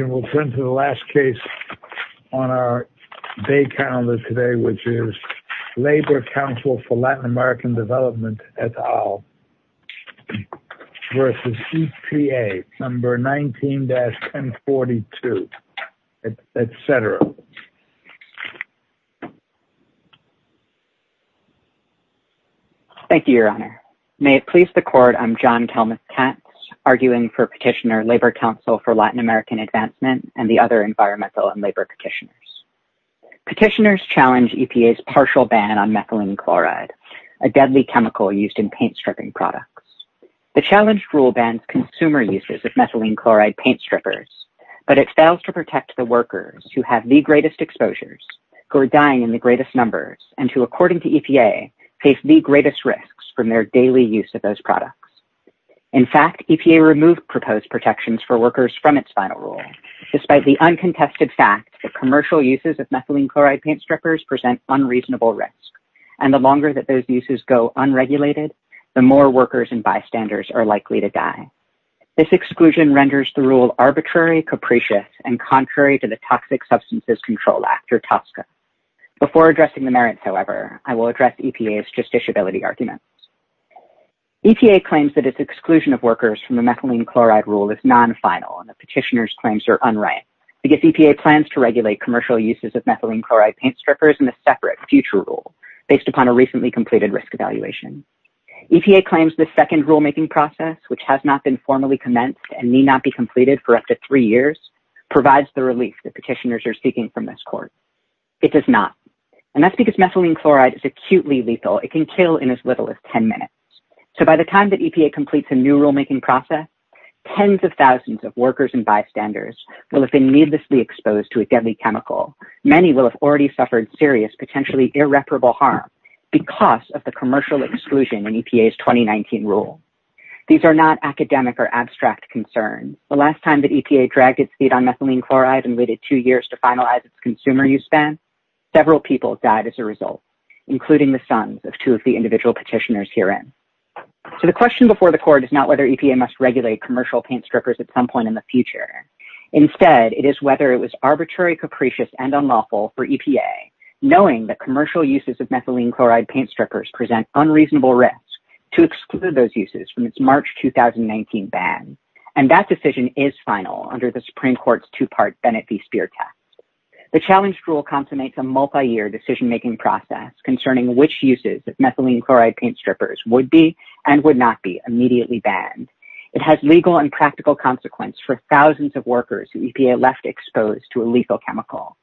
and we'll turn to the last case on our day calendar today which is Labor Council for Latin American Development et al versus EPA number 19-1042, etc. Thank you, your honor. May it please the court, I'm John Kelmuth-Kent, arguing for petitioner Labor Council for Latin American Advancement and the other environmental and labor petitioners. Petitioners challenge EPA's partial ban on methylene chloride, a deadly chemical used in paint stripping products. The challenged rule bans consumer uses of methylene chloride paint strippers, but it fails to protect the workers who have the greatest exposures, who are dying in the greatest numbers, and who according to EPA face the greatest risks from their daily use of those products. In fact, EPA removed proposed protections for workers from its final rule, despite the uncontested fact that commercial uses of methylene chloride paint strippers present unreasonable risk, and the longer that those uses go unregulated, the more workers and bystanders are likely to die. This exclusion renders the rule arbitrary, capricious, and contrary to the Toxic Substances Control Act, or TSCA. Before addressing the arguments. EPA claims that its exclusion of workers from the methylene chloride rule is non-final, and the petitioner's claims are unright, because EPA plans to regulate commercial uses of methylene chloride paint strippers in a separate future rule, based upon a recently completed risk evaluation. EPA claims the second rulemaking process, which has not been formally commenced and need not be completed for up to three years, provides the relief that petitioners are seeking from this court. It does not, and that's because methylene chloride is acutely lethal. It can kill in as little as 10 minutes. So by the time that EPA completes a new rulemaking process, tens of thousands of workers and bystanders will have been needlessly exposed to a deadly chemical. Many will have already suffered serious, potentially irreparable harm, because of the commercial exclusion in EPA's 2019 rule. These are not academic or abstract concerns. The last time that EPA dragged its feet on methylene chloride and waited two years to finalize its consumer use ban, several people died as a result, including the sons of two of the individual petitioners herein. So the question before the court is not whether EPA must regulate commercial paint strippers at some point in the future. Instead, it is whether it was arbitrary, capricious, and unlawful for EPA, knowing that commercial uses of methylene chloride paint strippers present unreasonable risk, to exclude those uses from its March 2019 ban. And that decision is final under the Supreme Court's two-part Bennett v. Spear test. The challenged rule complements a multi-year decision-making process concerning which uses of methylene chloride paint strippers would be and would not be immediately banned. It has legal and practical consequence for thousands of workers who EPA left exposed to a lethal chemical.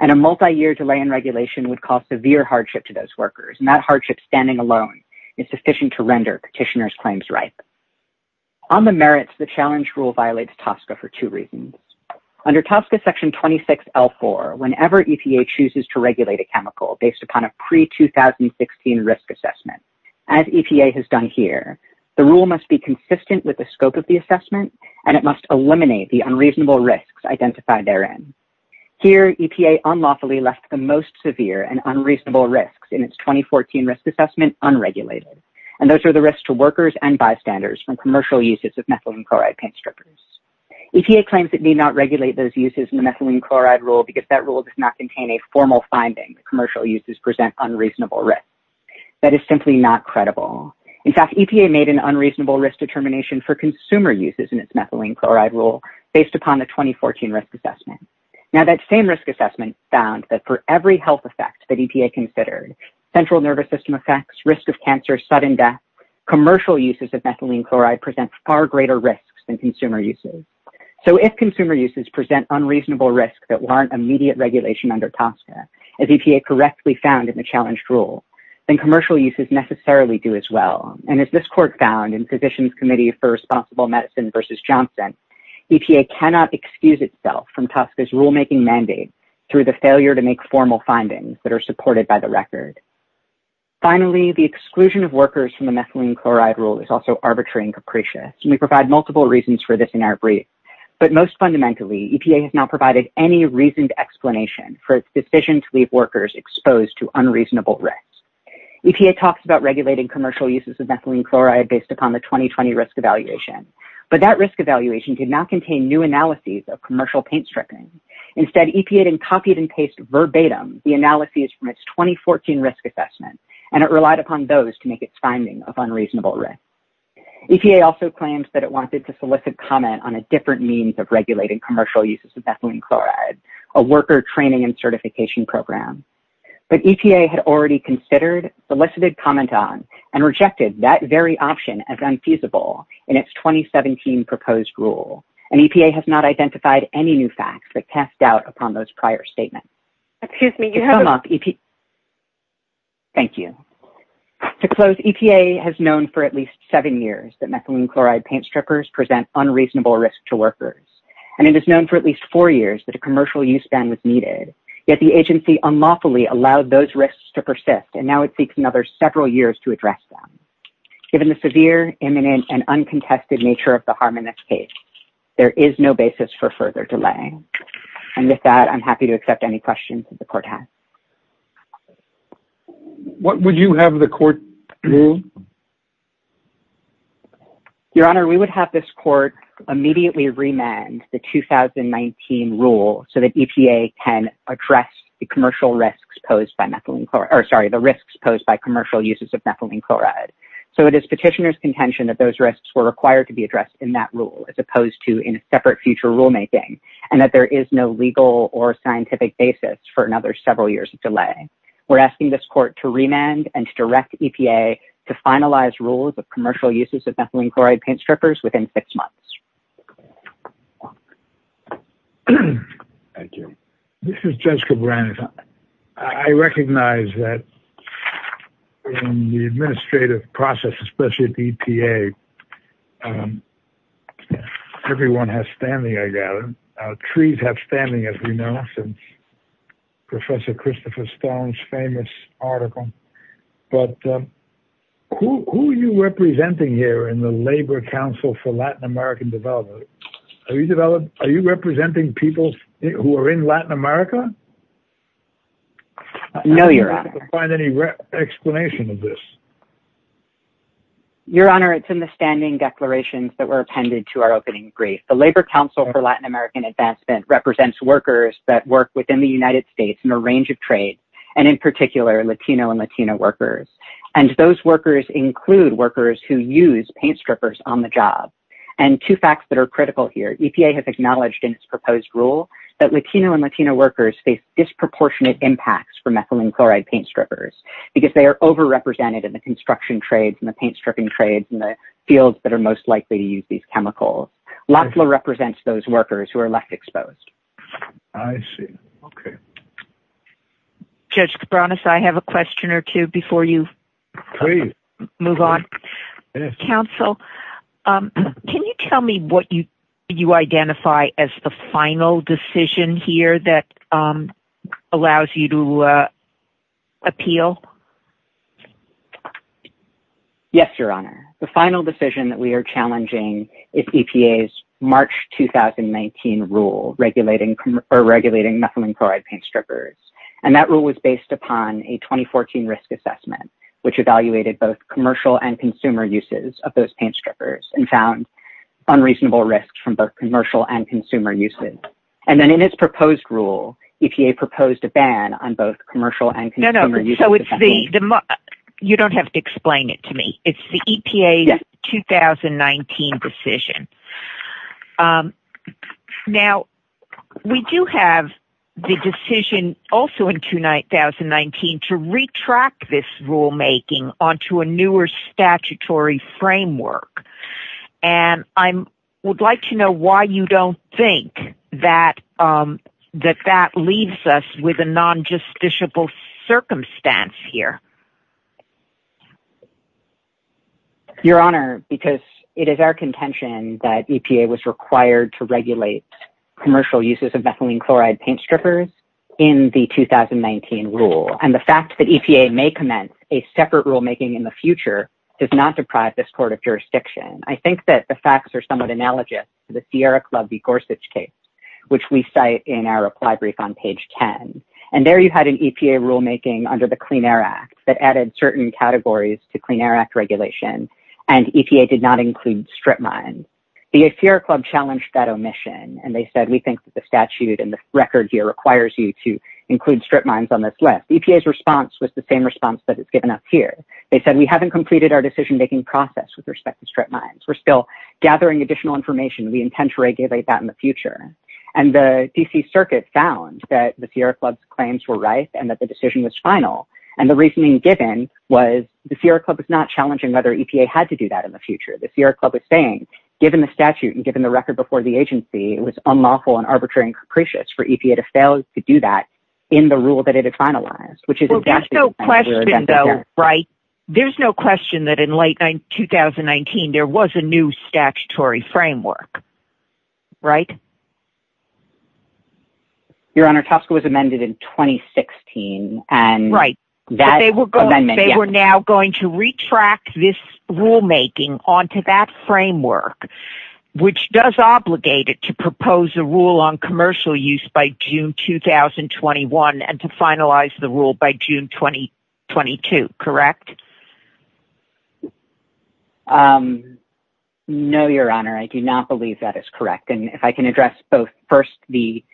And a multi-year delay in regulation would cause severe hardship to those workers, and that hardship standing alone is sufficient to render petitioners' claims ripe. On the whenever EPA chooses to regulate a chemical based upon a pre-2016 risk assessment, as EPA has done here, the rule must be consistent with the scope of the assessment, and it must eliminate the unreasonable risks identified therein. Here, EPA unlawfully left the most severe and unreasonable risks in its 2014 risk assessment unregulated, and those are the risks to workers and bystanders from commercial uses of methylene chloride paint strippers. EPA claims it did not regulate those uses in the methylene chloride rule because that rule does not contain a formal finding that commercial uses present unreasonable risks. That is simply not credible. In fact, EPA made an unreasonable risk determination for consumer uses in its methylene chloride rule based upon the 2014 risk assessment. Now, that same risk assessment found that for every health effect that EPA considered, central nervous system effects, risk of cancer, sudden death, commercial uses of methylene So, if consumer uses present unreasonable risks that warrant immediate regulation under TSCA, as EPA correctly found in the challenged rule, then commercial uses necessarily do as well. And as this court found in Physicians Committee for Responsible Medicine v. Johnson, EPA cannot excuse itself from TSCA's rulemaking mandate through the failure to make formal findings that are supported by the record. Finally, the exclusion of workers from the But most fundamentally, EPA has now provided any reasoned explanation for its decision to leave workers exposed to unreasonable risks. EPA talks about regulating commercial uses of methylene chloride based upon the 2020 risk evaluation, but that risk evaluation did not contain new analyses of commercial paint strippers. Instead, EPA then copied and pasted verbatim the analyses from its 2014 risk assessment, and it relied upon those to make its finding of unreasonable risks. EPA also claims that it wanted to solicit comment on a different means of regulating commercial uses of methylene chloride, a worker training and certification program. But EPA had already considered, solicited comment on, and rejected that very option as unfeasible in its 2017 proposed rule, and EPA has not identified any new facts that cast doubt upon those prior statements. To close, EPA has known for at least seven years that methylene chloride paint strippers present unreasonable risk to workers, and it is known for at least four years that a commercial use ban was needed, yet the agency unlawfully allowed those risks to persist, and now it seeks another several years to address them. Given the severe, imminent, and uncontested nature of the harm in this case, there is no basis for further delay. And with that, I'm happy to accept any questions that the court has. What would you have the court rule? Your Honor, we would have this court immediately remand the 2019 rule so that EPA can address the commercial risks posed by methylene chloride, or sorry, the risks posed by commercial uses of methylene chloride. So it is petitioner's contention that those risks were required to be addressed in that rule, as opposed to in a separate future rulemaking, and that there is no legal or scientific basis for another several years of delay. We're asking this court to remand and to direct EPA to finalize rules of commercial uses of methylene chloride paint strippers within six months. Thank you. This is Judge Cabrera. I recognize that in the administrative process, especially at EPA, everyone has standing, I gather. Trees have standing, as we know, since Professor Christopher Stone's famous article. But who are you representing here in the Labor Council for Latin American Development? Are you representing people who are in Latin America? No, Your Honor. I don't find any explanation of this. Your Honor, it's in the standing declarations that were appended to our opening brief. The Labor Council for Latin American Advancement represents workers that work within the United States in a range of trades, and in particular, Latino and Latina workers. And those workers include workers who use paint strippers on the job. And two facts that are critical here, EPA has acknowledged in its proposed rule that Latino and Latina workers face disproportionate impacts for methylene chloride paint strippers, because they are overrepresented in the construction trades and the paint stripping trades in the fields that are most likely to use these chemicals. LAFLA represents those workers who are left exposed. I see. Okay. Judge Cabrera, I have a question or two before you move on. Counsel, can you tell me what you identify as the final decision here that allows you to appeal? Yes, Your Honor. The final decision that we are challenging is EPA's March 2019 rule regulating methylene chloride paint strippers. And that rule was based upon a 2014 risk assessment, which evaluated both commercial and consumer uses of those paint strippers and found unreasonable risks from both commercial and consumer uses. And then in its proposed rule, EPA proposed a ban on both commercial and consumer uses. So it's the, you don't have to explain it to me. It's the EPA's 2019 decision. Now, we do have the decision also in 2019 to retract this rulemaking onto a newer statutory framework. And I would like to know why you don't think that, that that leaves us with a non-justiciable circumstance here. Your Honor, because it is our contention that EPA was required to regulate commercial uses of methylene chloride paint strippers in the 2019 rule. And the fact that EPA may commence a court of jurisdiction. I think that the facts are somewhat analogous to the Sierra Club v. Gorsuch case, which we cite in our reply brief on page 10. And there you had an EPA rulemaking under the Clean Air Act that added certain categories to Clean Air Act regulation. And EPA did not include strip mines. The Sierra Club challenged that omission. And they said, we think that the statute and the record here requires you to include strip mines on this list. EPA's response was the same response that it's given up here. They said, we haven't completed our decision-making process with respect to strip mines. We're still gathering additional information. We intend to regulate that in the future. And the DC Circuit found that the Sierra Club's claims were right and that the decision was final. And the reasoning given was the Sierra Club was not challenging whether EPA had to do that in the future. The Sierra Club was saying, given the statute and given the record before the agency, it was unlawful and arbitrary and capricious for EPA to fail to do that in the rule that it had finalized, which is exactly- Right. There's no question that in late 2019, there was a new statutory framework, right? Your Honor, TSCA was amended in 2016. And- Right. They were now going to retract this rulemaking onto that framework, which does obligate it to propose a rule on commercial use by June 2021 and to finalize the rule by June 2022, correct? No, Your Honor. I do not believe that is correct. And if I can address both first, the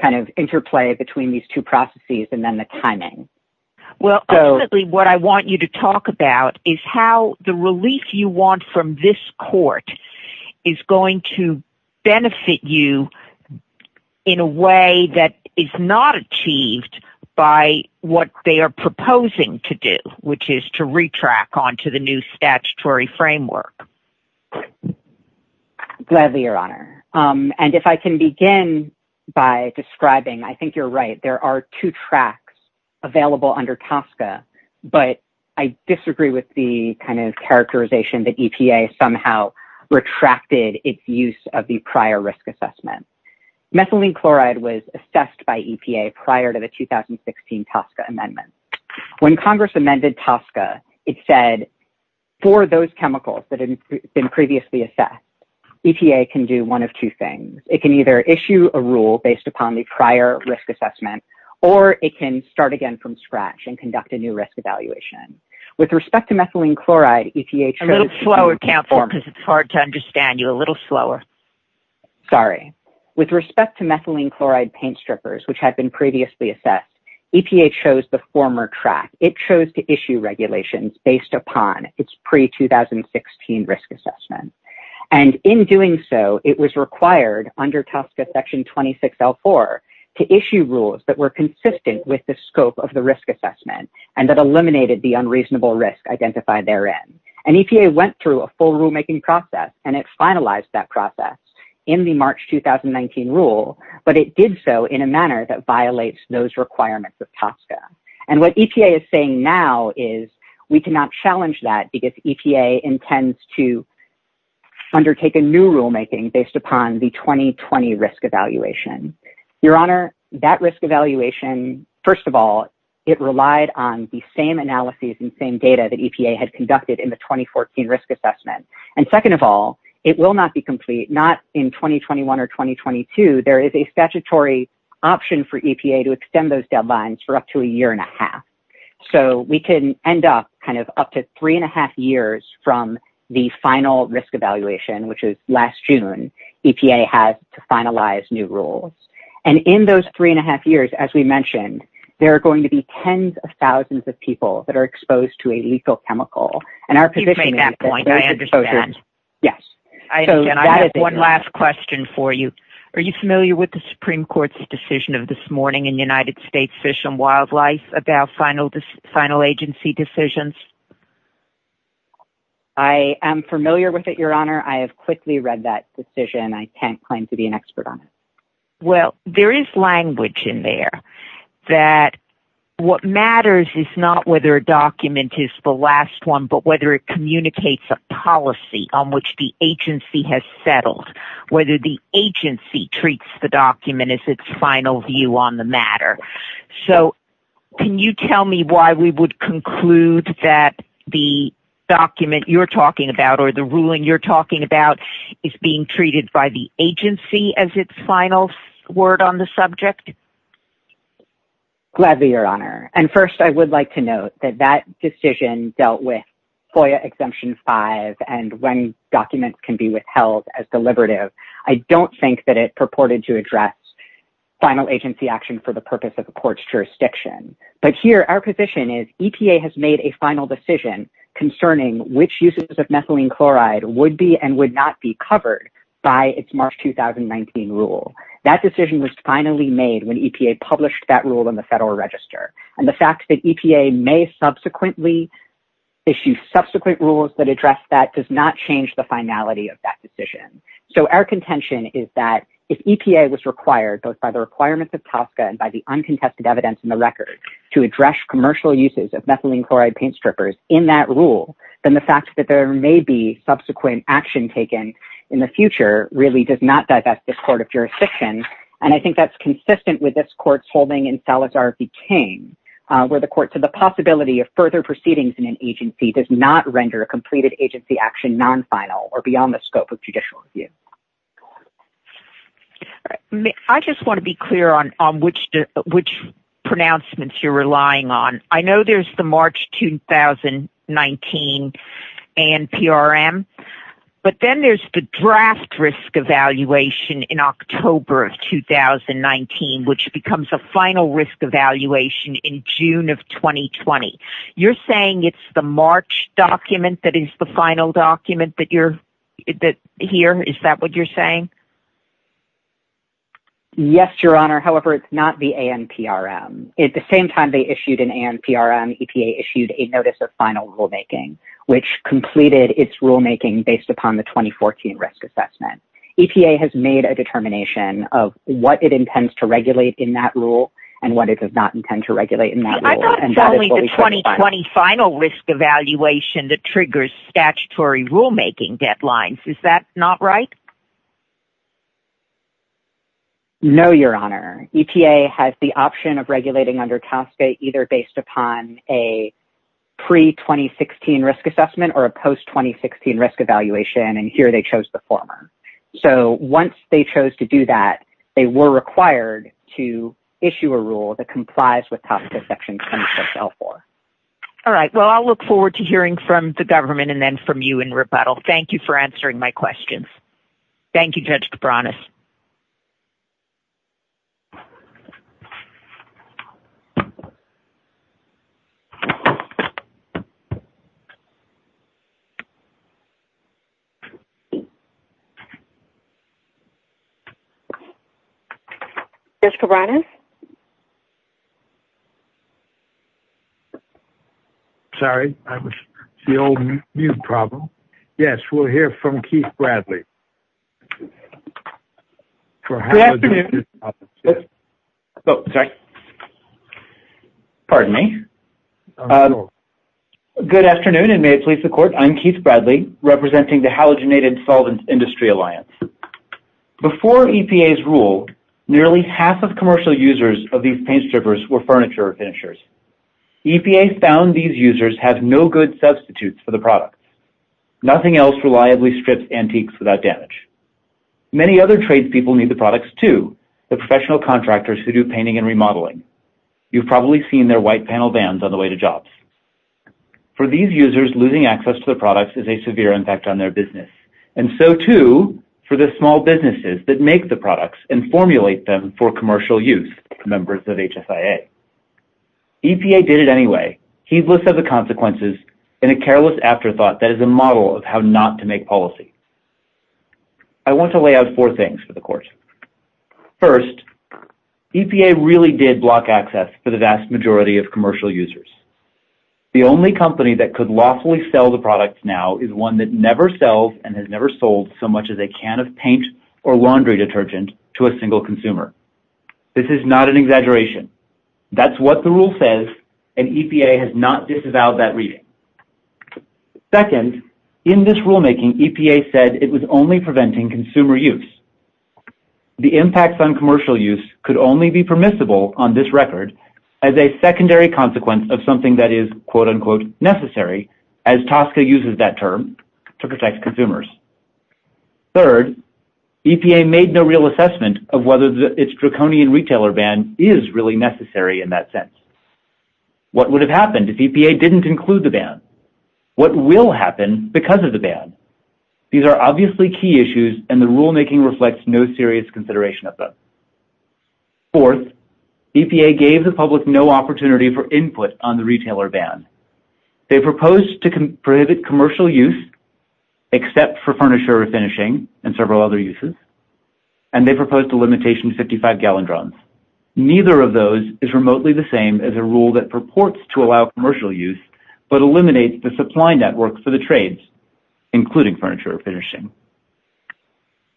kind of interplay between these two processes and then the timing. Well, ultimately, what I want you to talk about is how the relief you want from this court is going to benefit you in a way that is not achieved by what they are proposing to do, which is to retract onto the new statutory framework. Gladly, Your Honor. And if I can begin by describing, I think you're right. There are two tracks available under TSCA, but I disagree with the kind of characterization that EPA somehow retracted its use of the prior risk assessment. Methylene chloride was assessed by EPA prior to the 2016 TSCA amendment. When Congress amended TSCA, it said for those chemicals that had been previously assessed, EPA can do one of two things. It can either issue a rule based upon the prior risk assessment, or it can start again from scratch and conduct a new risk evaluation. With respect to methylene chloride, EPA chose- A little slower, Counselor, because it's hard to understand. You're a little slower. Sorry. With respect to methylene chloride paint strippers, which had been previously assessed, EPA chose the former track. It chose to issue regulations based upon its pre-2016 risk assessment. And in doing so, it was required under TSCA section 26L4 to issue rules that were consistent with the scope of the risk assessment and that eliminated the unreasonable risk identified therein. And EPA went through a full rulemaking process and it finalized that process in the March 2019 rule, but it did so in a manner that violates those requirements of TSCA. And what EPA is saying now is we cannot challenge that because EPA intends to undertake a new rulemaking based upon the 2020 risk evaluation. Your Honor, that risk evaluation, first of all, it relied on the same analyses and same data that EPA had conducted in the 2014 risk assessment. And second of all, it will not be complete, not in 2021 or 2022. There is a statutory option for EPA to extend those deadlines for a year and a half. So we can end up up to three and a half years from the final risk evaluation, which was last June, EPA had to finalize new rules. And in those three and a half years, as we mentioned, there are going to be tens of thousands of people that are exposed to a lethal chemical. You make that point. I understand. Yes. I have one last question for you. Are you familiar with the Supreme Court's decision of this morning in United States Fish and Wildlife about final agency decisions? I am familiar with it, Your Honor. I have quickly read that decision. I can't claim to be an expert on it. Well, there is language in there that what matters is not whether a document is the last one, but whether it communicates a policy on which the agency has settled, whether the agency treats the document as its final view on the matter. So can you tell me why we would conclude that the document you're talking about or the ruling you're talking about is being treated by the agency as its final word on the subject? Gladly, Your Honor. And first, I would like to note that that decision dealt with FOIA Exemption 5 and when documents can be withheld as deliberative. I don't think that it purported to address final agency action for the purpose of the court's jurisdiction. But here, our position is EPA has made a final decision concerning which uses of methylene chloride would be and would not be covered by its March 2019 rule. That decision was finally made when EPA published that rule in February. The fact that EPA may subsequently issue subsequent rules that address that does not change the finality of that decision. So our contention is that if EPA was required, both by the requirements of TSCA and by the uncontested evidence in the record, to address commercial uses of methylene chloride paint strippers in that rule, then the fact that there may be subsequent action taken in the future really does not divest the court of jurisdiction. And I think that's consistent with this court's holding in Salazar v. King, where the court said the possibility of further proceedings in an agency does not render a completed agency action non-final or beyond the scope of judicial review. I just want to be clear on which pronouncements you're relying on. I know there's the March 2019 ANPRM, but then there's the draft risk evaluation in October of 2019, which becomes a final risk evaluation in June of 2020. You're saying it's the March document that is the final document here? Is that what you're saying? Yes, Your Honor. However, it's not the ANPRM. At the completed its rulemaking based upon the 2014 risk assessment, EPA has made a determination of what it intends to regulate in that rule and what it does not intend to regulate in that rule. I thought it's only the 2020 final risk evaluation that triggers statutory rulemaking deadlines. Is that not right? No, Your Honor. EPA has the option of regulating under TSCA either based upon a 2016 risk assessment or a post-2016 risk evaluation, and here they chose the former. So once they chose to do that, they were required to issue a rule that complies with top of the section. All right. Well, I'll look forward to hearing from the government and then from you in rebuttal. Thank you for answering my questions. Thank you, Judge Cabranes. Judge Cabranes? Sorry, I was the old mute problem. Yes, we'll hear from Keith Bradley. Good afternoon. Oh, sorry. Pardon me. Good afternoon, and may it please the Court. I'm Keith Bradley representing the Halogenated Solvents Industry Alliance. Before EPA's rule, nearly half of commercial users of these paint strippers were furniture finishers. EPA found these users have no good substitutes for the product. Nothing else reliably strips antiques without damage. Many other trade people need the products too, the professional contractors who do painting and remodeling. You've probably seen their white vans on the way to jobs. For these users, losing access to the products is a severe impact on their business, and so too for the small businesses that make the products and formulate them for commercial use, members of HSIA. EPA did it anyway. He's listed the consequences in a careless afterthought that is a model of how not to make policy. I want to lay out four things for the users. The only company that could lawfully sell the products now is one that never sells and has never sold so much as a can of paint or laundry detergent to a single consumer. This is not an exaggeration. That's what the rule says, and EPA has not disavowed that reading. Second, in this rulemaking, EPA said it was only preventing consumer use. The impacts on commercial use could only be permissible on this record as a secondary consequence of something that is quote-unquote necessary as TSCA uses that term to protect consumers. Third, EPA made no real assessment of whether its draconian retailer ban is really necessary in that sense. What would have happened if EPA didn't include the ban? What will happen because of the ban? These are obviously key considerations. Fourth, EPA gave the public no opportunity for input on the retailer ban. They proposed to prohibit commercial use except for furniture or finishing and several other uses, and they proposed a limitation to 55-gallon drums. Neither of those is remotely the same as a rule that purports to allow commercial use but eliminates the supply network for the trades, including furniture or finishing.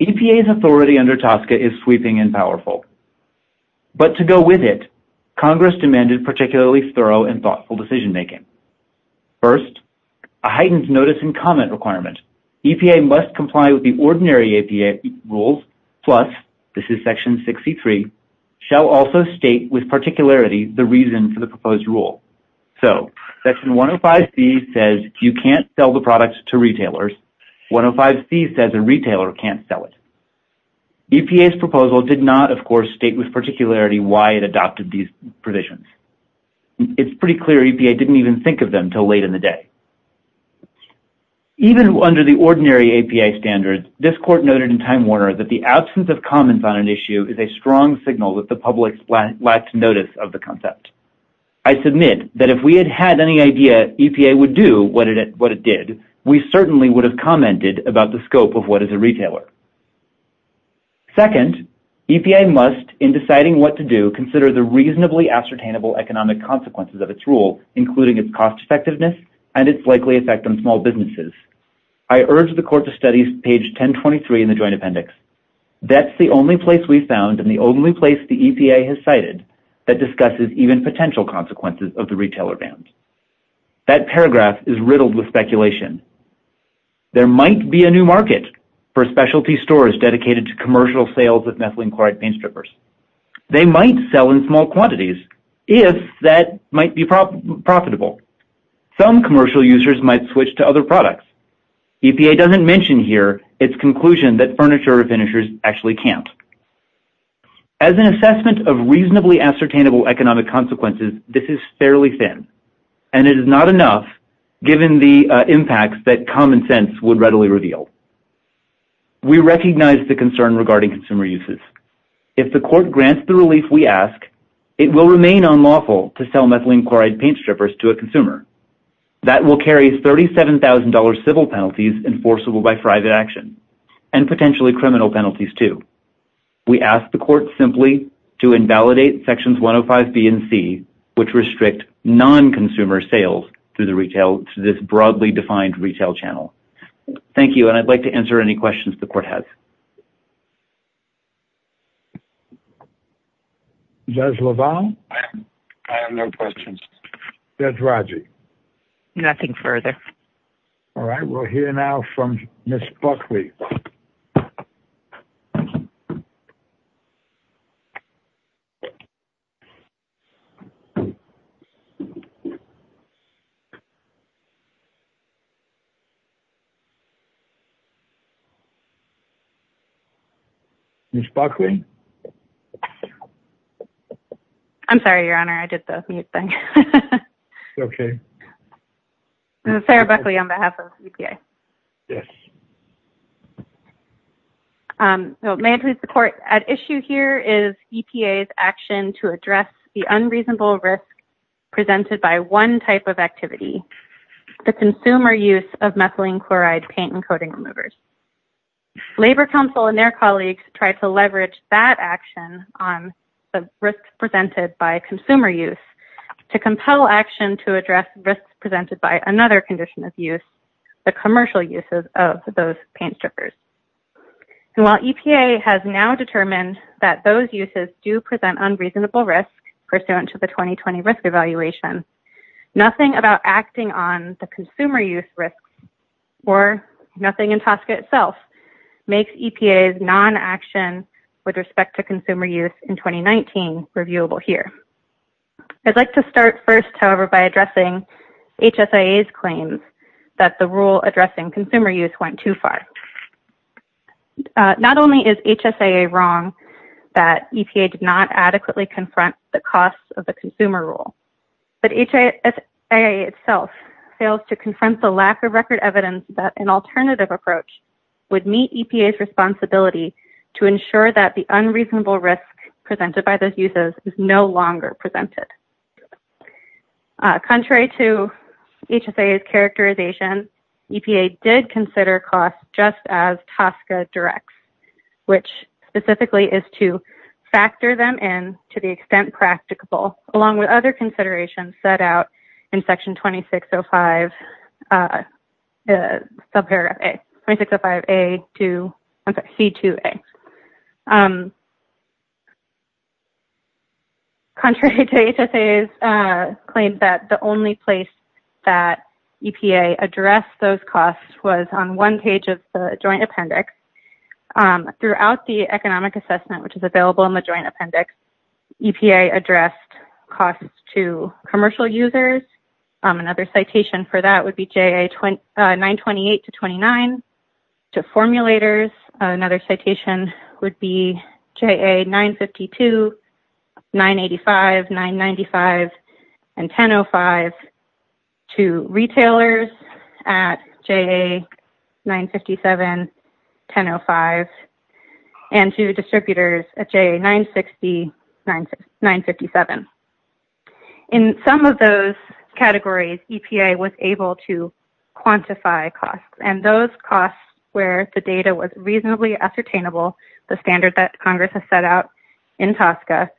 EPA's authority under TSCA is sweeping and powerful, but to go with it, Congress demanded particularly thorough and thoughtful decision-making. First, a heightened notice and comment requirement. EPA must comply with the ordinary EPA rules, plus, this is section 63, shall also state with particularity the reason for the proposed rule. So, section 105C says you can't sell the product to retailers. 105C says a retailer can't sell it. EPA's proposal did not, of course, state with particularity why it adopted these provisions. It's pretty clear EPA didn't even think of them until late in the day. Even under the ordinary APA standards, this court noted in Time Warner that the absence of comments on an issue is a strong signal that the public lacked notice of the concept. I submit that if we had had any idea EPA would do what it did, we certainly would have commented about the scope of what is a retailer. Second, EPA must, in deciding what to do, consider the reasonably ascertainable economic consequences of its rule, including its cost-effectiveness and its likely effect on small businesses. I urge the Court to study page 1023 in the Joint Appendix. That's the only place we've found and the only place the EPA has cited that discusses even potential consequences of the retailer ban. That paragraph is riddled with speculation. There might be a new market for specialty stores dedicated to commercial sales of methylene chloride paint strippers. They might sell in small quantities if that might be profitable. Some commercial users might switch to other products. EPA doesn't mention here its conclusion that furniture finishers actually can't. As an assessment of reasonably ascertainable economic consequences, this is fairly thin, and it is not enough given the impacts that common sense would readily reveal. We recognize the concern regarding consumer uses. If the Court grants the relief we ask, it will remain unlawful to sell methylene chloride paint strippers to a consumer. That will carry $37,000 civil penalties enforceable by private action, and potentially criminal penalties, too. We ask the Court simply to invalidate Sections 105B and C, which restrict non-consumer sales through this broadly defined retail channel. Thank you, and I'd like to answer any questions the Court has. Judge LaValle? I have no questions. Judge Rodgers? Nothing further. All right, we'll hear now from Ms. Buckley. Ms. Buckley? I'm sorry, Your Honor. I did the mute thing. Okay. Sarah Buckley on behalf of EPA. Yes. May it please the Court, at issue here is EPA's action to address the unreasonable risk presented by one type of activity, the consumer use of methylene chloride paint and coating removers. Labor Council and their colleagues tried to leverage that action on the risks presented by consumer use to compel action to address risks presented by another condition of use, the commercial uses of those paint strippers. While EPA has now determined that those uses do present unreasonable risk pursuant to the 2020 risk evaluation, nothing about acting on the consumer use risk, or nothing in TSCA itself, makes EPA's non-action with respect to consumer use in 2019 reviewable here. I'd like to start first, however, by addressing HSIA's claims that the rule addressing consumer use went too far. Not only is HSIA wrong that EPA did not adequately confront the costs of the consumer rule, but HSIA itself fails to confront the lack of record evidence that an alternative approach would meet EPA's responsibility to ensure that the unreasonable risk presented by those uses is no longer presented. Contrary to HSIA's characterization, EPA did consider costs just as TSCA directs, which specifically is to factor them in to the extent practicable, along with other considerations set out in section 2605, subparagraph A, 2605A to C2A. Contrary to HSIA's claim that the only place that EPA addressed those costs was on one page of the joint appendix. Throughout the economic assessment, which is available in the joint appendix, EPA addressed costs to commercial users. Another citation for that would be JA 928 to 29, to formulators. Another citation would be JA 952, 985, 995, and 1005 to retailers at JA 957, 1005, and to distributors at JA 960, 957. In some of those categories, EPA was able to quantify costs, and those costs where the data was reasonably ascertainable, the standard that Congress has set out in TSCA,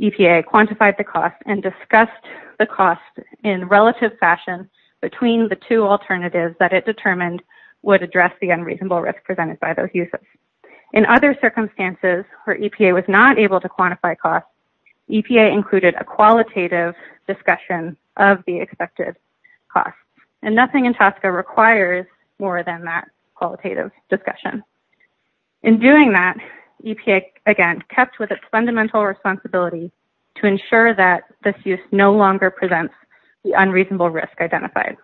EPA quantified the cost and discussed the cost in relative fashion between the two alternatives that it determined would address the unreasonable risk presented by those uses. In other circumstances where EPA was not able to quantify costs, EPA included a qualitative discussion of the expected costs, and nothing in TSCA requires more than that qualitative discussion. In doing that, EPA, again, kept with its fundamental responsibility to ensure that this use no longer presents the unreasonable risk identified.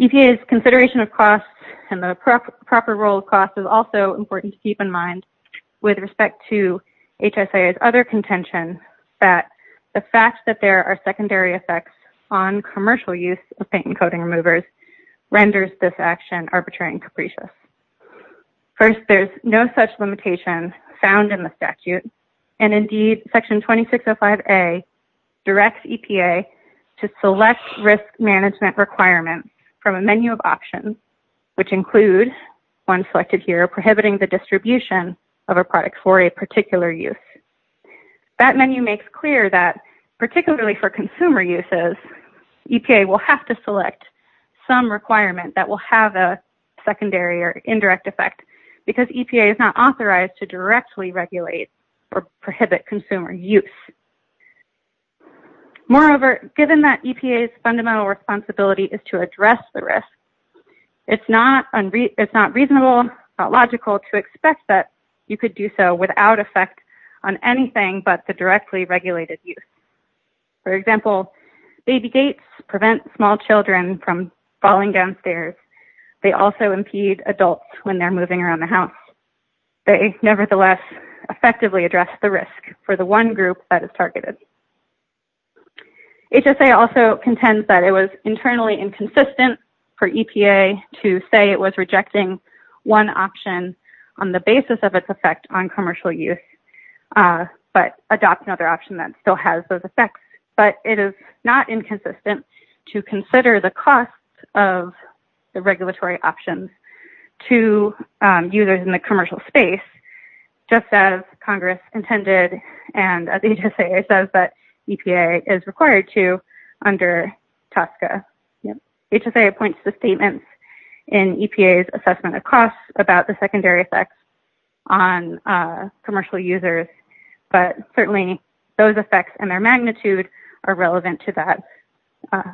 EPA's consideration of costs and the proper role of costs is also important to keep in mind with respect to HSIA's other contention that the fact that there are secondary effects on commercial use of paint and coating removers renders this action arbitrary and capricious. First, there's no such limitation found in the statute, and, indeed, Section 2605A directs EPA to select risk management requirements from a menu of options, which include, one selected here, prohibiting the distribution of a product for a particular use. That menu makes clear that, particularly for consumer uses, EPA will have to select some requirement that will have a secondary or indirect effect because EPA is not authorized to directly regulate or prohibit consumer use. Moreover, given that EPA's fundamental responsibility is to address the risk, it's not reasonable or logical to expect that you could do so without effect on anything but directly regulated use. For example, baby gates prevent small children from falling downstairs. They also impede adults when they're moving around the house. They, nevertheless, effectively address the risk for the one group that is targeted. HSIA also contends that it was internally inconsistent for EPA to say it was rejecting one option on the basis of its effect on commercial use but adopt another option that still has those effects, but it is not inconsistent to consider the cost of the regulatory options to users in the commercial space, just as Congress intended and as HSIA says that EPA is required to under TSCA. HSIA points to statements in EPA's assessment of costs about the secondary effects on commercial users, but certainly those effects and their magnitude are relevant to that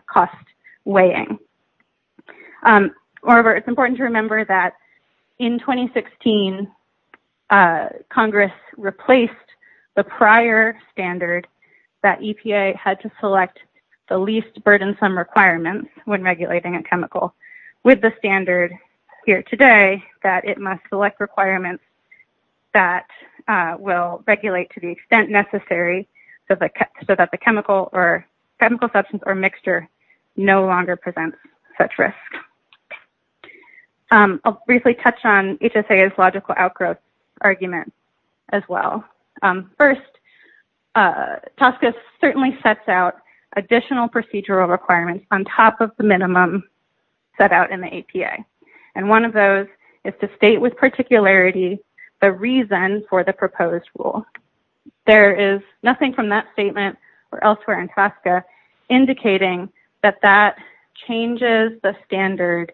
cost weighing. However, it's important to remember that in 2016, Congress replaced the prior standard that EPA had to select the least burdensome requirements when regulating a chemical with the standard here today that it must select requirements that will regulate to the extent necessary so that the chemical or chemical substance or mixture no longer presents such risk. I'll briefly touch on HSIA's logical outgrowth argument as well. First, TSCA certainly sets out additional procedural requirements on top of the minimum set out in the APA, and one of those is to state with particularity the reason for the proposed rule. There is nothing from that statement or elsewhere in TSCA indicating that that changes the standard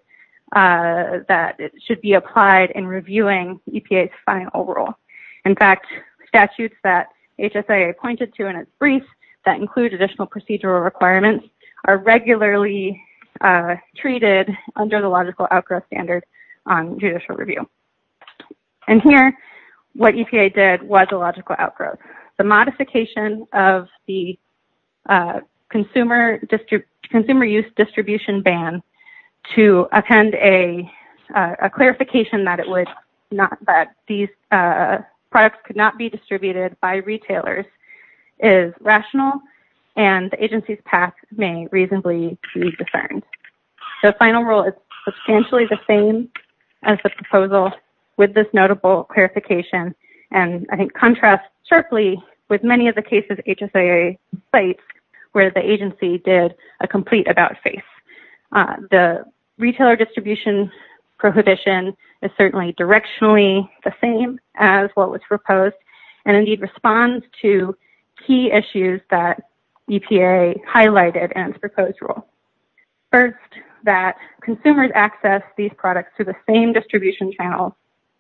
that should be applied in reviewing EPA's final rule. In fact, statutes that HSIA pointed to in its brief that include additional procedural requirements are regularly treated under the logical outgrowth standard on judicial review. Here, what EPA did was a logical outgrowth. The modification of the consumer use distribution ban to attend a clarification that these products could not be distributed by retailers is rational, and the agency's path may reasonably be discerned. The final rule is substantially the same as the proposal with this notable clarification, and I think contrasts sharply with many of the cases HSIA cites where the agency did a complete about-face. The retailer distribution prohibition is certainly directionally the same as what was proposed, and indeed responds to key issues that EPA highlighted in its proposed rule. First, that consumers access these products through the same distribution channel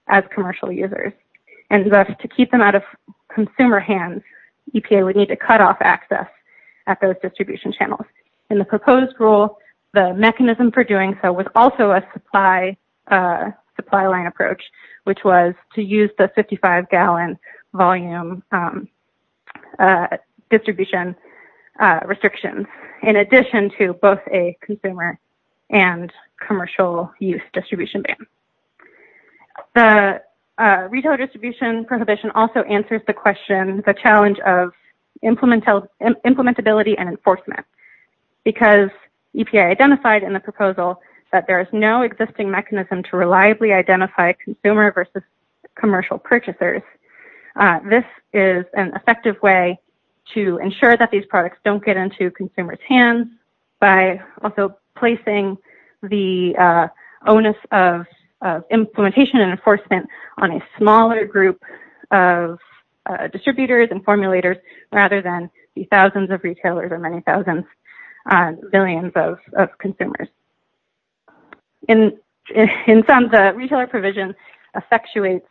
as commercial users, and thus to keep them out of consumer hands, EPA would need to cut off access at those distribution channels. In the proposed rule, the mechanism for doing so was also a supply line approach, which was to use the 55-gallon volume distribution restrictions in addition to both a consumer and commercial use distribution ban. The retailer distribution prohibition also answers the question, the challenge of implementability and enforcement, because EPA identified in the proposal that there is no mechanism to reliably identify consumer versus commercial purchasers. This is an effective way to ensure that these products don't get into consumers' hands by also placing the onus of implementation and enforcement on a smaller group of distributors and formulators rather than the thousands of retailers or many thousands, billions of consumers. In sum, the retailer provision effectuates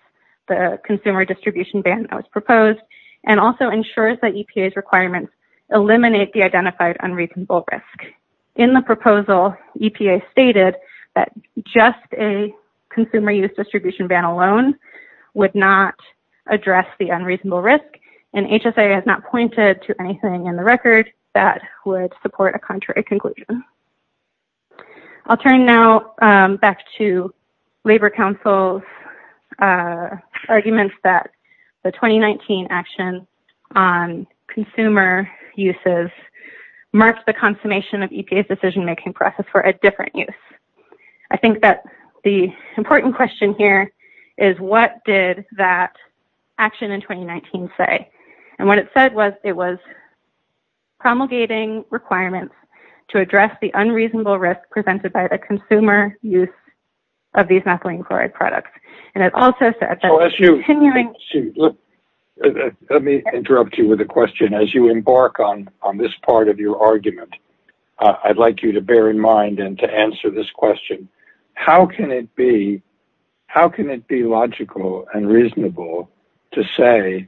the consumer distribution ban that was proposed and also ensures that EPA's requirements eliminate the identified unreasonable risk. In the proposal, EPA stated that just a consumer use distribution ban alone would not address the unreasonable risk, and HSA has not pointed to anything in the record that would support a contrary conclusion. I'll turn now back to Labor Council's arguments that the 2019 action on consumer uses marked the consummation of EPA's decision-making process for a different use. I think that the important question here is, what did that action in 2019 say? And what it said was it was promulgating requirements to address the unreasonable risk presented by the consumer use of these methylene chloride products. And it also said that the continuing... Let me interrupt you with a question. As you embark on this part of your argument, I'd like you to bear in mind and to answer this question. How can it be logical and reasonable to say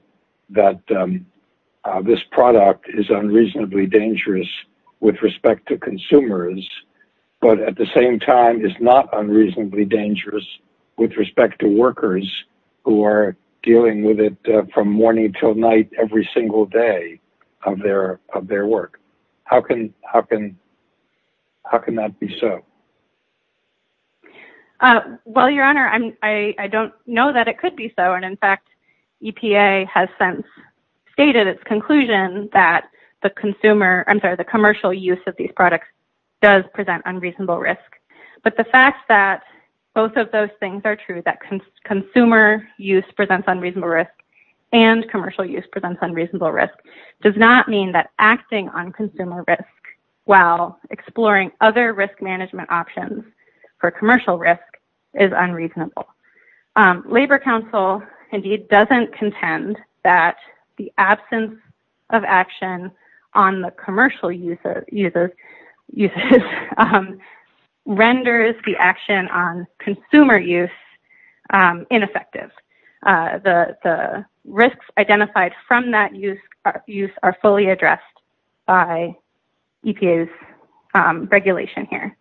that this product is unreasonably dangerous with respect to consumers, but at the same time is not unreasonably dangerous with respect to workers who are dealing with it from morning till night every single day of their work? How can that be so? Well, Your Honor, I don't know that it could be so. And in fact, EPA has since stated its conclusion that the consumer... I'm sorry, the commercial use of these products does present unreasonable risk. But the fact that both of those things are true, that consumer use presents unreasonable risk and commercial use presents unreasonable risk, does not mean that acting on consumer risk while exploring other risk management options for commercial risk is unreasonable. Labor Council indeed doesn't contend that the absence of action on the commercial renders the action on consumer use ineffective. The risks identified from that use are fully addressed by EPA's regulation here.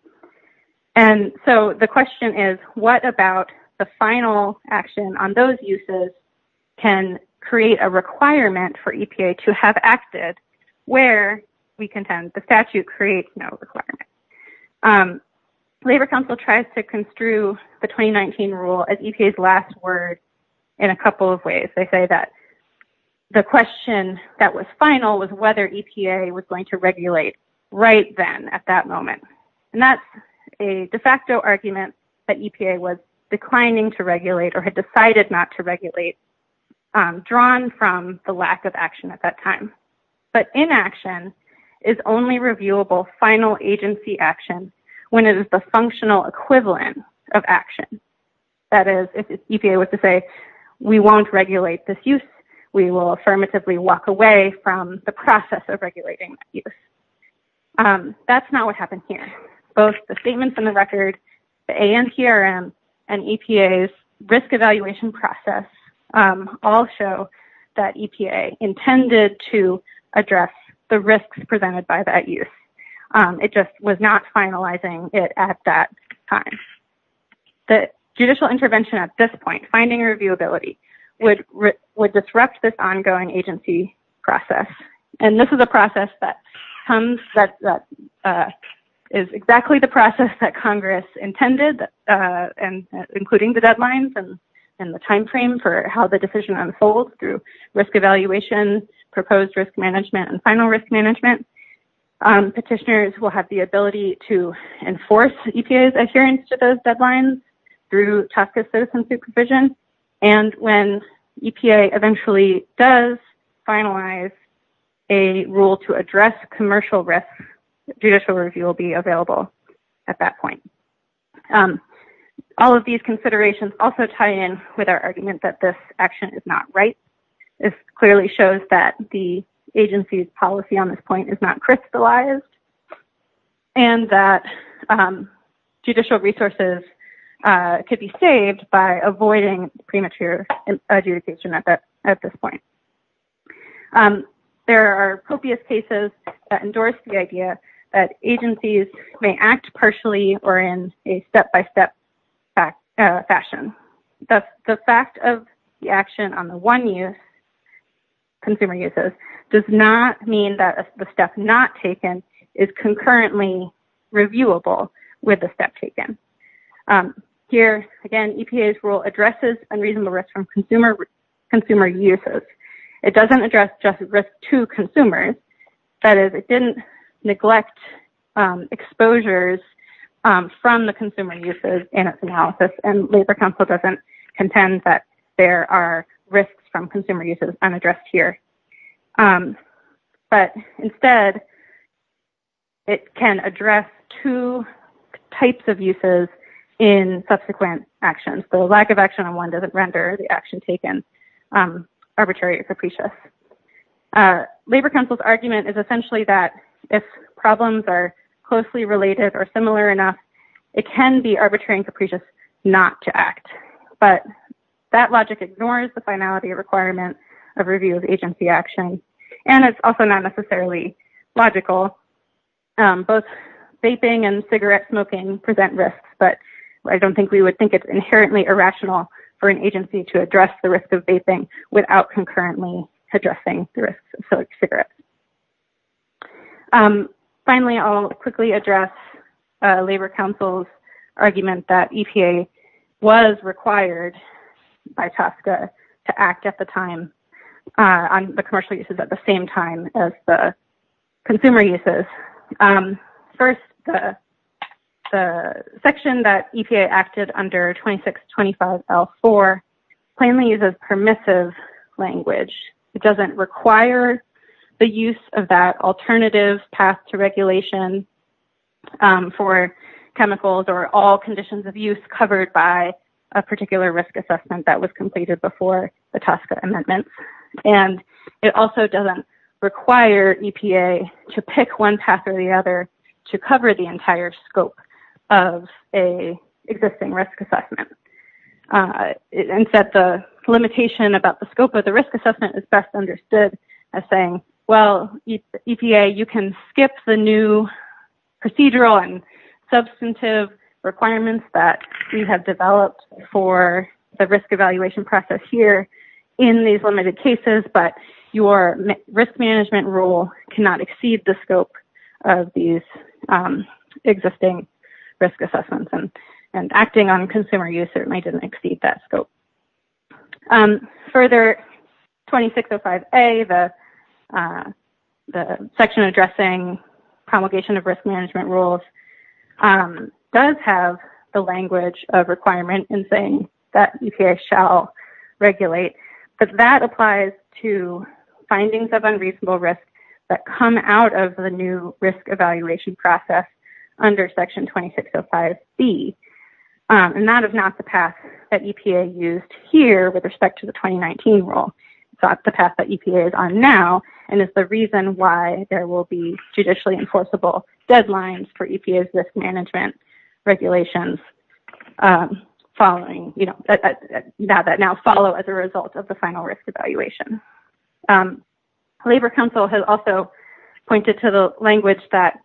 And so the question is, what about the final action on those uses can create a requirement for EPA to have acted where we contend the statute creates no requirement? Labor Council tries to construe the 2019 rule as EPA's last word in a couple of ways. They say that the question that was final was whether EPA was going to regulate right then at that moment. And that's a de facto argument that EPA was declining to regulate or had decided not to regulate, drawn from the lack of action at that time. But inaction is only reviewable final agency action when it is the functional equivalent of action. That is, if EPA was to say, we won't regulate this use, we will affirmatively walk away from the process of regulating use. That's not what happened here. Both the statements in the record, the ANCRM, and EPA's risk evaluation process all show that EPA intended to address the risks presented by that use. It just was not finalizing it at that time. The judicial intervention at this point, finding reviewability, would disrupt this ongoing agency process. And this is a process that comes, that is exactly the process that how the decision unfolds through risk evaluation, proposed risk management, and final risk management. Petitioners will have the ability to enforce EPA's adherence to those deadlines through task of citizen supervision. And when EPA eventually does finalize a rule to address commercial risk, judicial review will be available at that point. All of these considerations also tie in with our argument that this action is not right. This clearly shows that the agency's policy on this point is not crystallized, and that judicial resources could be saved by avoiding premature adjudication at that, at this point. There are copious cases that endorse the idea that agencies may act partially or in a step-by-step fashion. The fact of the action on the one use, consumer uses, does not mean that the step not taken is concurrently reviewable with the step taken. Here, again, EPA's rule addresses unreasonable risk from consumer uses. It doesn't address just risk to consumers. That is, it didn't neglect exposures from the consumer uses in its analysis. And labor council doesn't contend that there are risks from consumer uses unaddressed here. But instead, it can address two types of uses in subsequent actions. The lack of action on one doesn't render the action taken arbitrary or capricious. Labor council's argument is essentially that if problems are closely related or similar enough, it can be arbitrary and capricious not to act. But that logic ignores the finality requirement of review of agency action. And it's also not necessarily logical. Both vaping and cigarette smoking present risks. But I don't think we would think it's inherently irrational for an agency to address the risk of vaping without concurrently addressing the risks of cigarettes. Finally, I'll quickly address labor council's argument that EPA was required by TSCA to act at the time on the commercial uses at the same time as the consumer uses. First, the section that EPA acted under 2625L4 plainly uses permissive language. It doesn't require the use of that alternative path to regulation for chemicals or all conditions of use covered by a particular risk assessment that was completed before the EPA to pick one path or the other to cover the entire scope of an existing risk assessment. Instead, the limitation about the scope of the risk assessment is best understood as saying, well, EPA, you can skip the new procedural and substantive requirements that we have developed for the risk evaluation process here in these limited cases, but your risk management rule cannot exceed the scope of these existing risk assessments. And acting on consumer use certainly didn't exceed that scope. Further, 2605A, the section addressing promulgation of risk management rules does have the language of requirement in saying that EPA shall regulate, but that applies to findings of unreasonable risk that come out of the new risk evaluation process under section 2605B. And that is not the path that EPA used here with respect to the 2019 rule. It's not the path that EPA is on now, and it's the reason why there will be judicially enforceable deadlines for EPA's risk management regulations following now that now follow as a result of the final risk evaluation. Labor Council has also pointed to the language that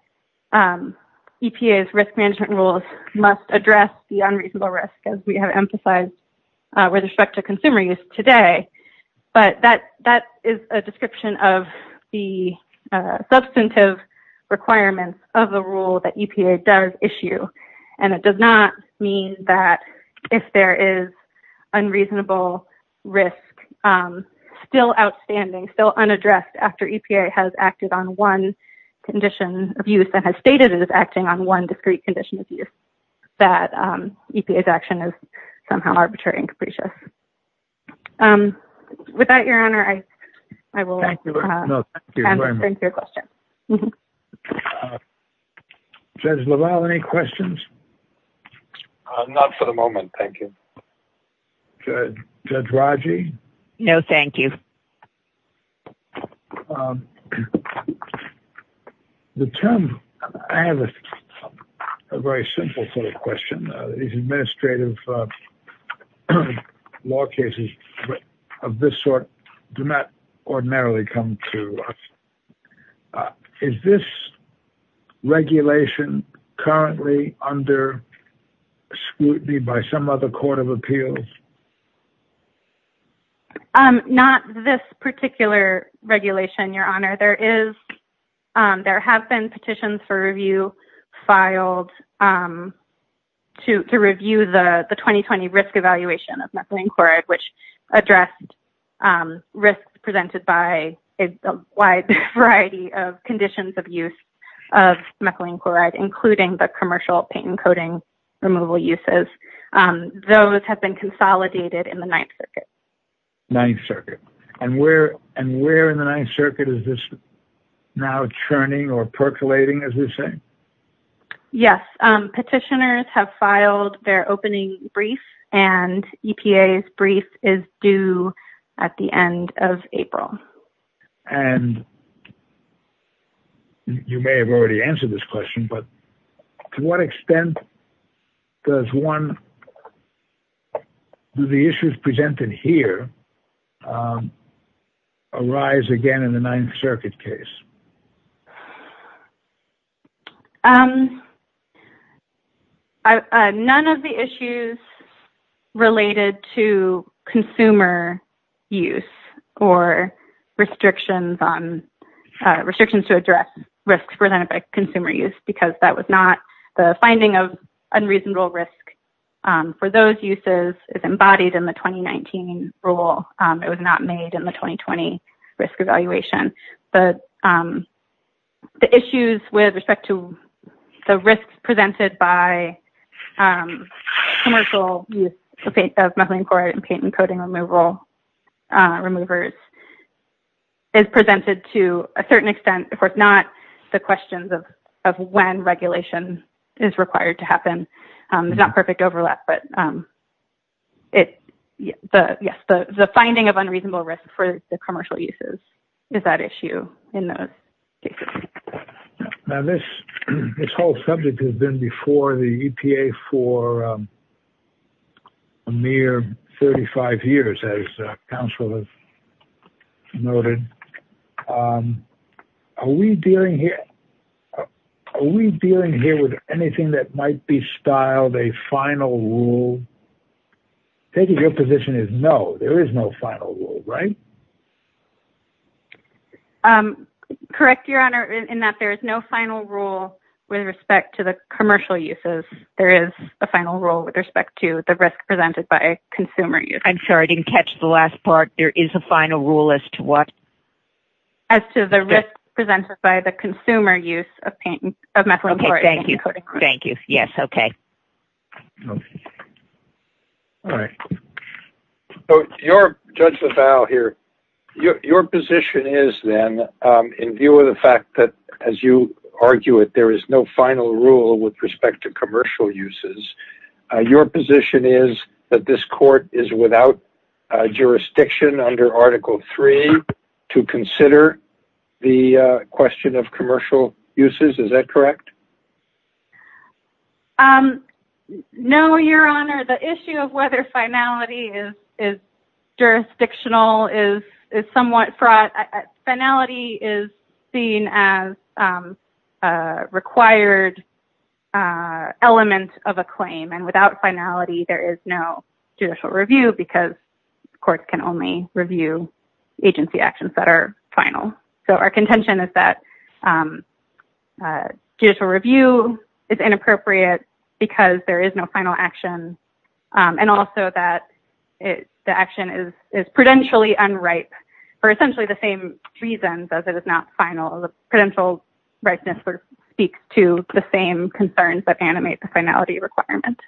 EPA's risk management rules must address the unreasonable risk as we have emphasized with respect to consumer use today. But that is a description of the substantive requirements of the rule that EPA does issue, and it does not mean that if there is unreasonable risk still outstanding, still unaddressed after EPA has acted on one condition of use and has stated it is acting on one discrete condition of use, that EPA's action is somehow arbitrary and capricious. With that, Your Honor, I will Thank you. No, thank you very much. answer your question. Judge LaValle, any questions? Not for the moment. Thank you. Judge Raji? No, thank you. The term... I have a very simple sort of question. These administrative law cases of this sort do not ordinarily come to us. Is this regulation currently under scrutiny by some other court of appeals? Not this particular regulation, Your Honor. There have been petitions for review filed to review the 2020 risk evaluation of methylene chloride, which addressed risks presented by a wide variety of conditions of use of methylene chloride, including the commercial paint and removal uses. Those have been consolidated in the Ninth Circuit. Ninth Circuit. And where in the Ninth Circuit is this now churning or percolating, as you say? Yes. Petitioners have filed their opening brief, and EPA's brief is due at the end of April. And you may have already answered this question, but to what extent does one... Do the issues presented here arise again in the Ninth Circuit case? None of the issues related to consumer use or restrictions on... Restrictions to address risks presented by consumer use, because that was not... The finding of unreasonable risk for those uses is embodied in the 2019 rule. It was not made in the 2020 risk evaluation. But the issues with respect to the risks presented by commercial use of methylene chloride and paint and coating removers is presented to a certain extent. Of course, not the questions of when regulation is required to happen. It's not of unreasonable risk for the commercial uses is that issue in those cases. Now, this whole subject has been before the EPA for a mere 35 years, as counsel has noted. Are we dealing here with anything that might be styled a final rule? I think your position is no, there is no final rule, right? Correct, Your Honor, in that there is no final rule with respect to the commercial uses. There is a final rule with respect to the risk presented by consumer use. I'm sorry, I didn't catch the last part. There is a final rule as to what? As to the risk presented by the consumer use of methylene chloride and coating remover. Thank you. Yes, okay. All right. So, Judge LaValle here, your position is then in view of the fact that, as you argue it, there is no final rule with respect to commercial uses. Your position is that this court is without jurisdiction under Article 3 to consider the question of commercial uses. Is that correct? No, Your Honor. The issue of whether finality is jurisdictional is somewhat fraught. Finality is seen as a required element of a claim, and without finality, there is no judicial review, because courts can only review agency actions that are final. So, our contention is that it's inappropriate because there is no final action, and also that the action is prudentially unripe for essentially the same reasons as it is not final. The prudential ripeness speaks to the same concerns that animate the finality requirement.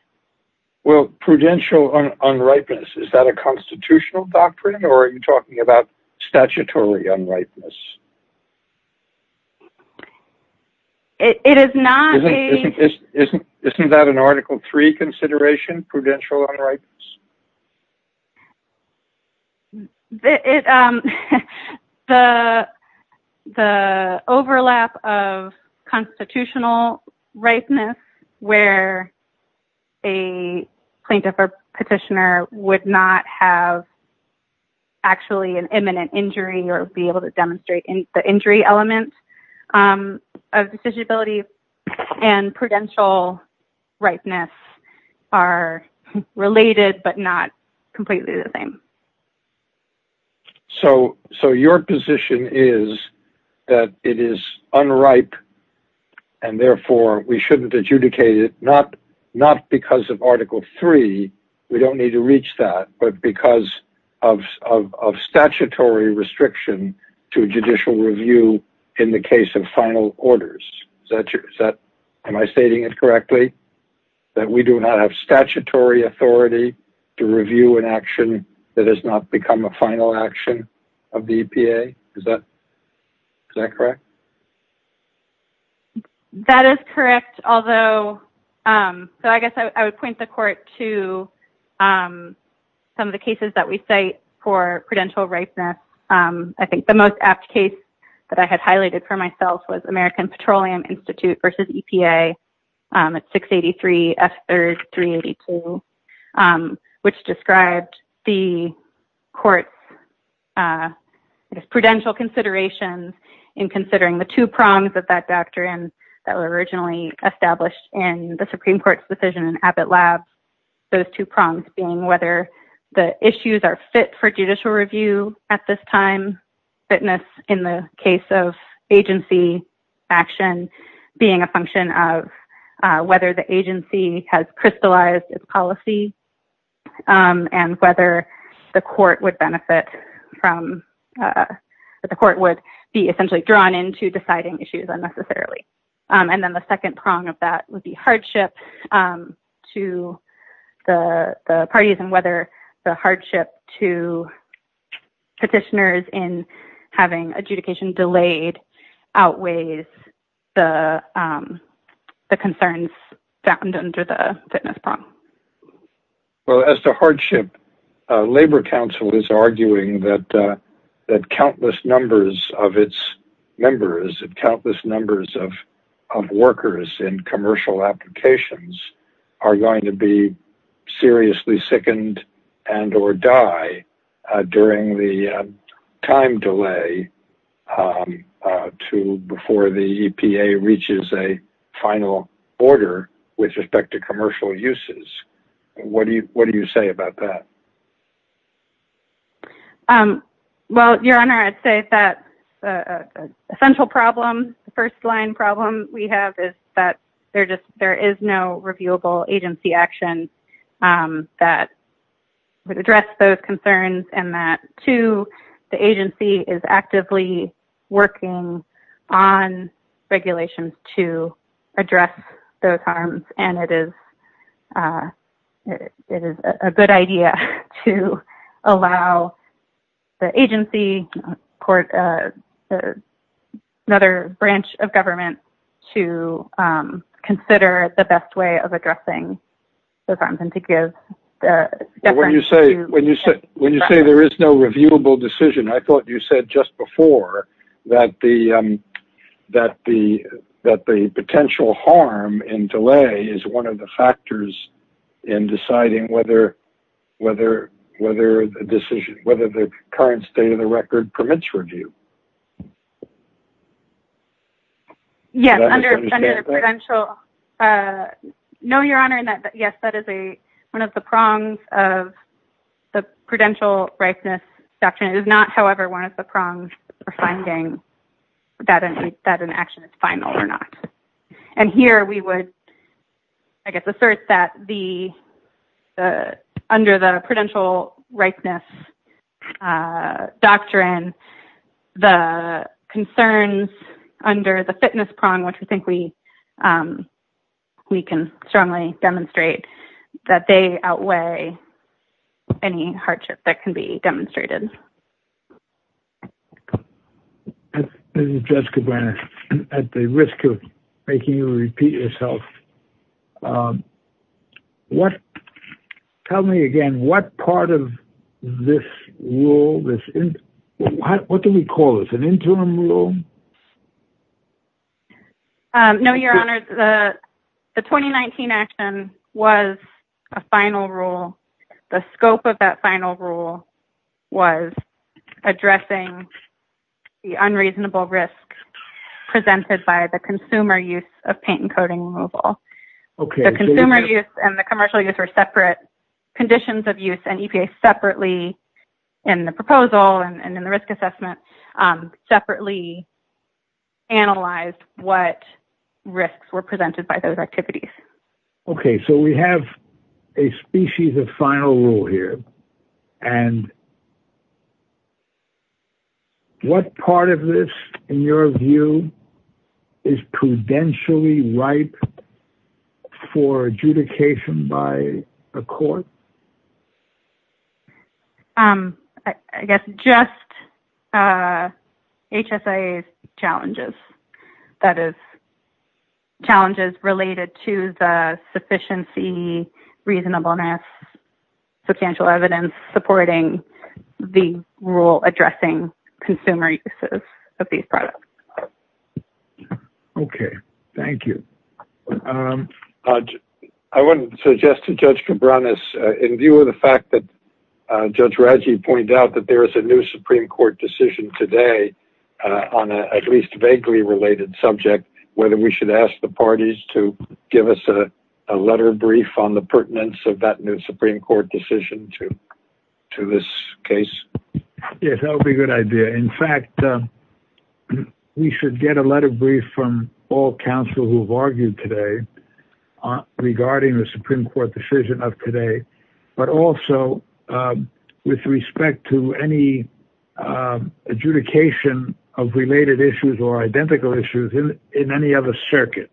Well, prudential unripeness, is that a constitutional doctrine, or are you talking about statutory unripeness? Isn't that an Article 3 consideration, prudential unripeness? The overlap of constitutional ripeness, where a plaintiff or petitioner would not have actually an imminent injury, or be able to demonstrate the injury element of decisionability and prudential ripeness are related, but not completely the same. So, your position is that it is unripe, and therefore we shouldn't adjudicate it, not because of Article 3, we don't need to reach that, but because of statutory restriction to judicial review in the case of final orders. Am I stating it correctly, that we do not have statutory authority to review an action that has not become a final action of the EPA? Is that correct? That is correct, although, so I guess I would point the court to some of the cases that we cite for prudential ripeness. I think the most apt case that I had highlighted for myself was American Petroleum Institute v. EPA at 683 F. 3rd 382, which described the court's prudential considerations in considering the two prongs of that doctrine that were originally established in the Supreme Court's decision in Abbott Lab. Those two prongs being whether the issues are fit for judicial review at this time, fitness in the case of agency action being a function of whether the court would be essentially drawn into deciding issues unnecessarily. And then the second prong of that would be hardship to the parties and whether the hardship to petitioners in having adjudication delayed outweighs the concerns found under the fitness prong. Well, as to hardship, Labor Council is arguing that countless numbers of its members and countless numbers of workers in commercial applications are going to be seriously sickened and or die during the time delay before the EPA reaches a final order with respect to commercial uses. What do you say about that? Well, Your Honor, I'd say that the essential problem, the first line problem we have is that there is no reviewable agency action that would address those concerns and that, two, the agency is actively working on regulations to address those harms, and it is a good idea to allow the agency, another branch of government, to consider the best way of addressing those harms and to give... When you say there is no reviewable decision, I thought you said just before that the potential harm in delay is one of the factors in deciding whether the current state of the record permits review. Yes, under the prudential... No, Your Honor, yes, that is one of the prongs of the prudential rightness doctrine. It is not, however, one of the prongs for finding that an action is final or not. Here, we would, I guess, assert that under the prudential rightness doctrine, the concerns under the fitness prong, which we think we can strongly demonstrate, that they outweigh any hardship that can be demonstrated. This is Judge Cabrera, at the risk of making you repeat yourself. What... Tell me again, what part of this rule, this... What do we call this, an interim rule? No, Your Honor, the 2019 action was a final rule. The scope of that final rule was addressing the unreasonable risk presented by the consumer use of paint and coating removal. Okay. The consumer use and the commercial use were separate conditions of use, and EPA separately, in the proposal and in the risk assessment, separately analyzed what risks were presented by those activities. Okay, so we have a species of final rule here, and what part of this, in your view, is prudentially ripe for adjudication by a court? I guess, just HSIA's challenges. That is, challenges related to the sufficiency, reasonableness, substantial evidence supporting the rule addressing consumer uses of these products. Okay. Thank you. I want to suggest to Judge Cabrera, in view of the fact that Judge Raggi pointed out that there is a new Supreme Court decision today, on at least vaguely related subject, whether we should ask the parties to give us a letter of brief on the pertinence of that new Supreme Court decision to this case? Yes, that would be a good idea. In fact, we should get a letter of brief from all counsel who have argued today regarding the Supreme Court decision of today, but also with respect to any adjudication of related issues or identical issues in any other circuit.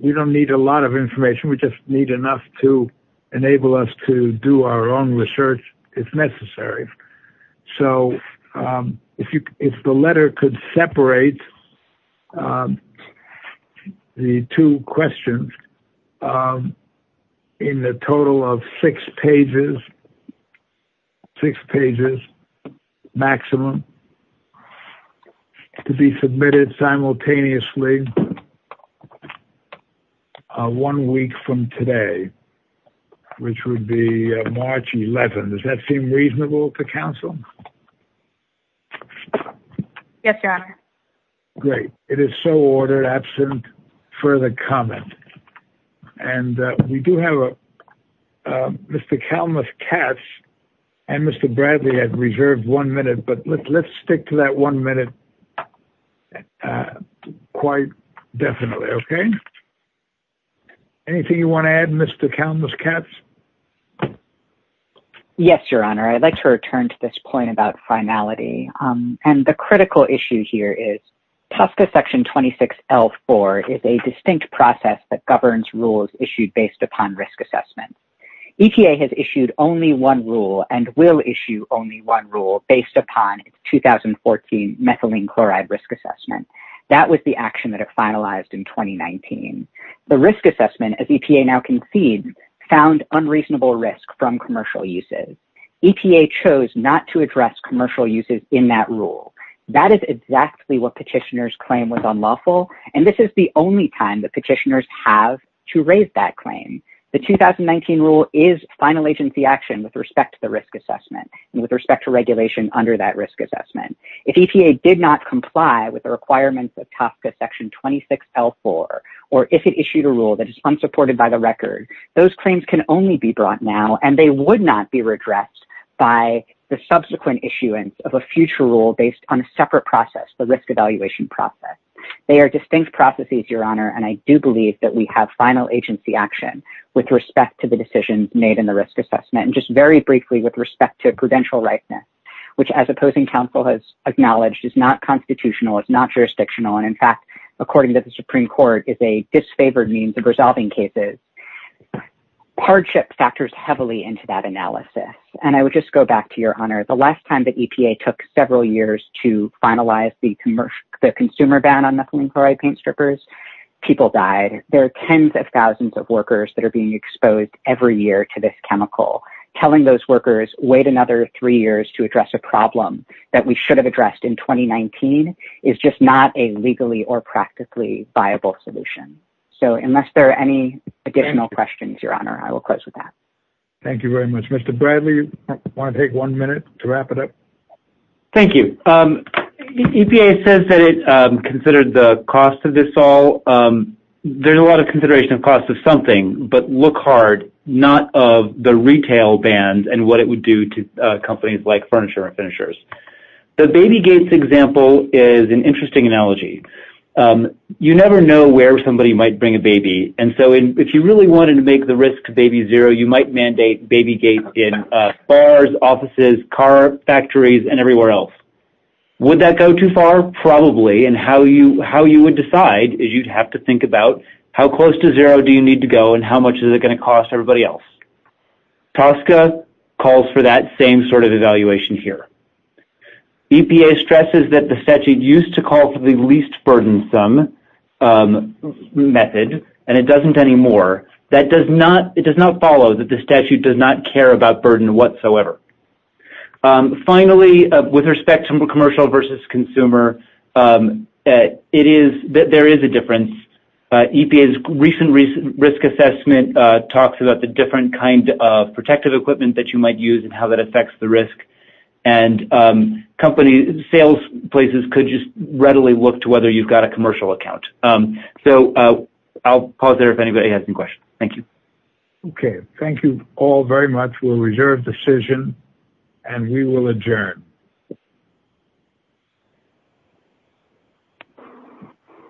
We don't need a lot of information. We just need enough to enable us to do our own research, if necessary. If the letter could separate the two questions in the total of six pages, maximum, to be submitted simultaneously on one week from today, which would be March 11th. Does that seem reasonable to counsel? Yes, Your Honor. Great. It is so ordered, absent further comment. We do have a, Mr. Kalmuth-Katz and Mr. Bradley have reserved one minute, but let's stick to one minute quite definitely. Anything you want to add, Mr. Kalmuth-Katz? Yes, Your Honor. I'd like to return to this point about finality. The critical issue here is TSCA Section 26L4 is a distinct process that governs rules issued based upon risk assessment. EPA has issued only one rule and will issue only one rule based upon its 2014 methylene chloride risk assessment. That was the action that it finalized in 2019. The risk assessment, as EPA now concedes, found unreasonable risk from commercial uses. EPA chose not to address commercial uses in that rule. That is exactly what petitioners claim was unlawful, and this is the only time that petitioners have to raise that claim. The 2019 rule is final agency action with respect to the risk assessment and with respect to regulation under that risk assessment. If EPA did not comply with the requirements of TSCA Section 26L4, or if it issued a rule that is unsupported by the record, those claims can only be brought now and they would not be redressed by the subsequent issuance of a future rule based on a separate process, the risk evaluation process. They are distinct processes, Your Honor, and I do believe that we have final agency action with respect to the decisions made in the risk assessment, and just very briefly with respect to prudential rightness, which as opposing counsel has acknowledged is not constitutional, it's not jurisdictional, and in fact, according to the Supreme Court, is a disfavored means of resolving cases. Hardship factors heavily into that analysis, and I would just go back to Your Honor, the consumer ban on methylene chloride paint strippers, people died. There are tens of thousands of workers that are being exposed every year to this chemical. Telling those workers, wait another three years to address a problem that we should have addressed in 2019 is just not a legally or practically viable solution. So unless there are any additional questions, Your Honor, I will close with that. Thank you very much. Mr. Bradley, you want to take one minute to wrap it up? Thank you. EPA says that it considered the cost of this all. There's a lot of consideration of cost of something, but look hard, not of the retail band and what it would do to companies like furniture and finishers. The Baby Gates example is an interesting analogy. You never know where somebody might bring a baby, and so if you really wanted to make the risk to zero, you might mandate Baby Gates in bars, offices, car factories, and everywhere else. Would that go too far? Probably, and how you would decide is you'd have to think about how close to zero do you need to go and how much is it going to cost everybody else. TSCA calls for that same sort of evaluation here. EPA stresses that the statute used to call for the least burdensome method, and it doesn't anymore. It does not follow that the statute does not care about burden whatsoever. Finally, with respect to commercial versus consumer, there is a difference. EPA's recent risk assessment talks about the different kind of protective equipment that you might use and how that affects the risk, and sales places could just readily look to whether you've got a commercial account. I'll pause there if anybody has any questions. Thank you. Okay. Thank you all very much. We'll reserve decision, and we will adjourn.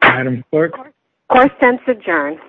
Item clerk? Court sents adjourn.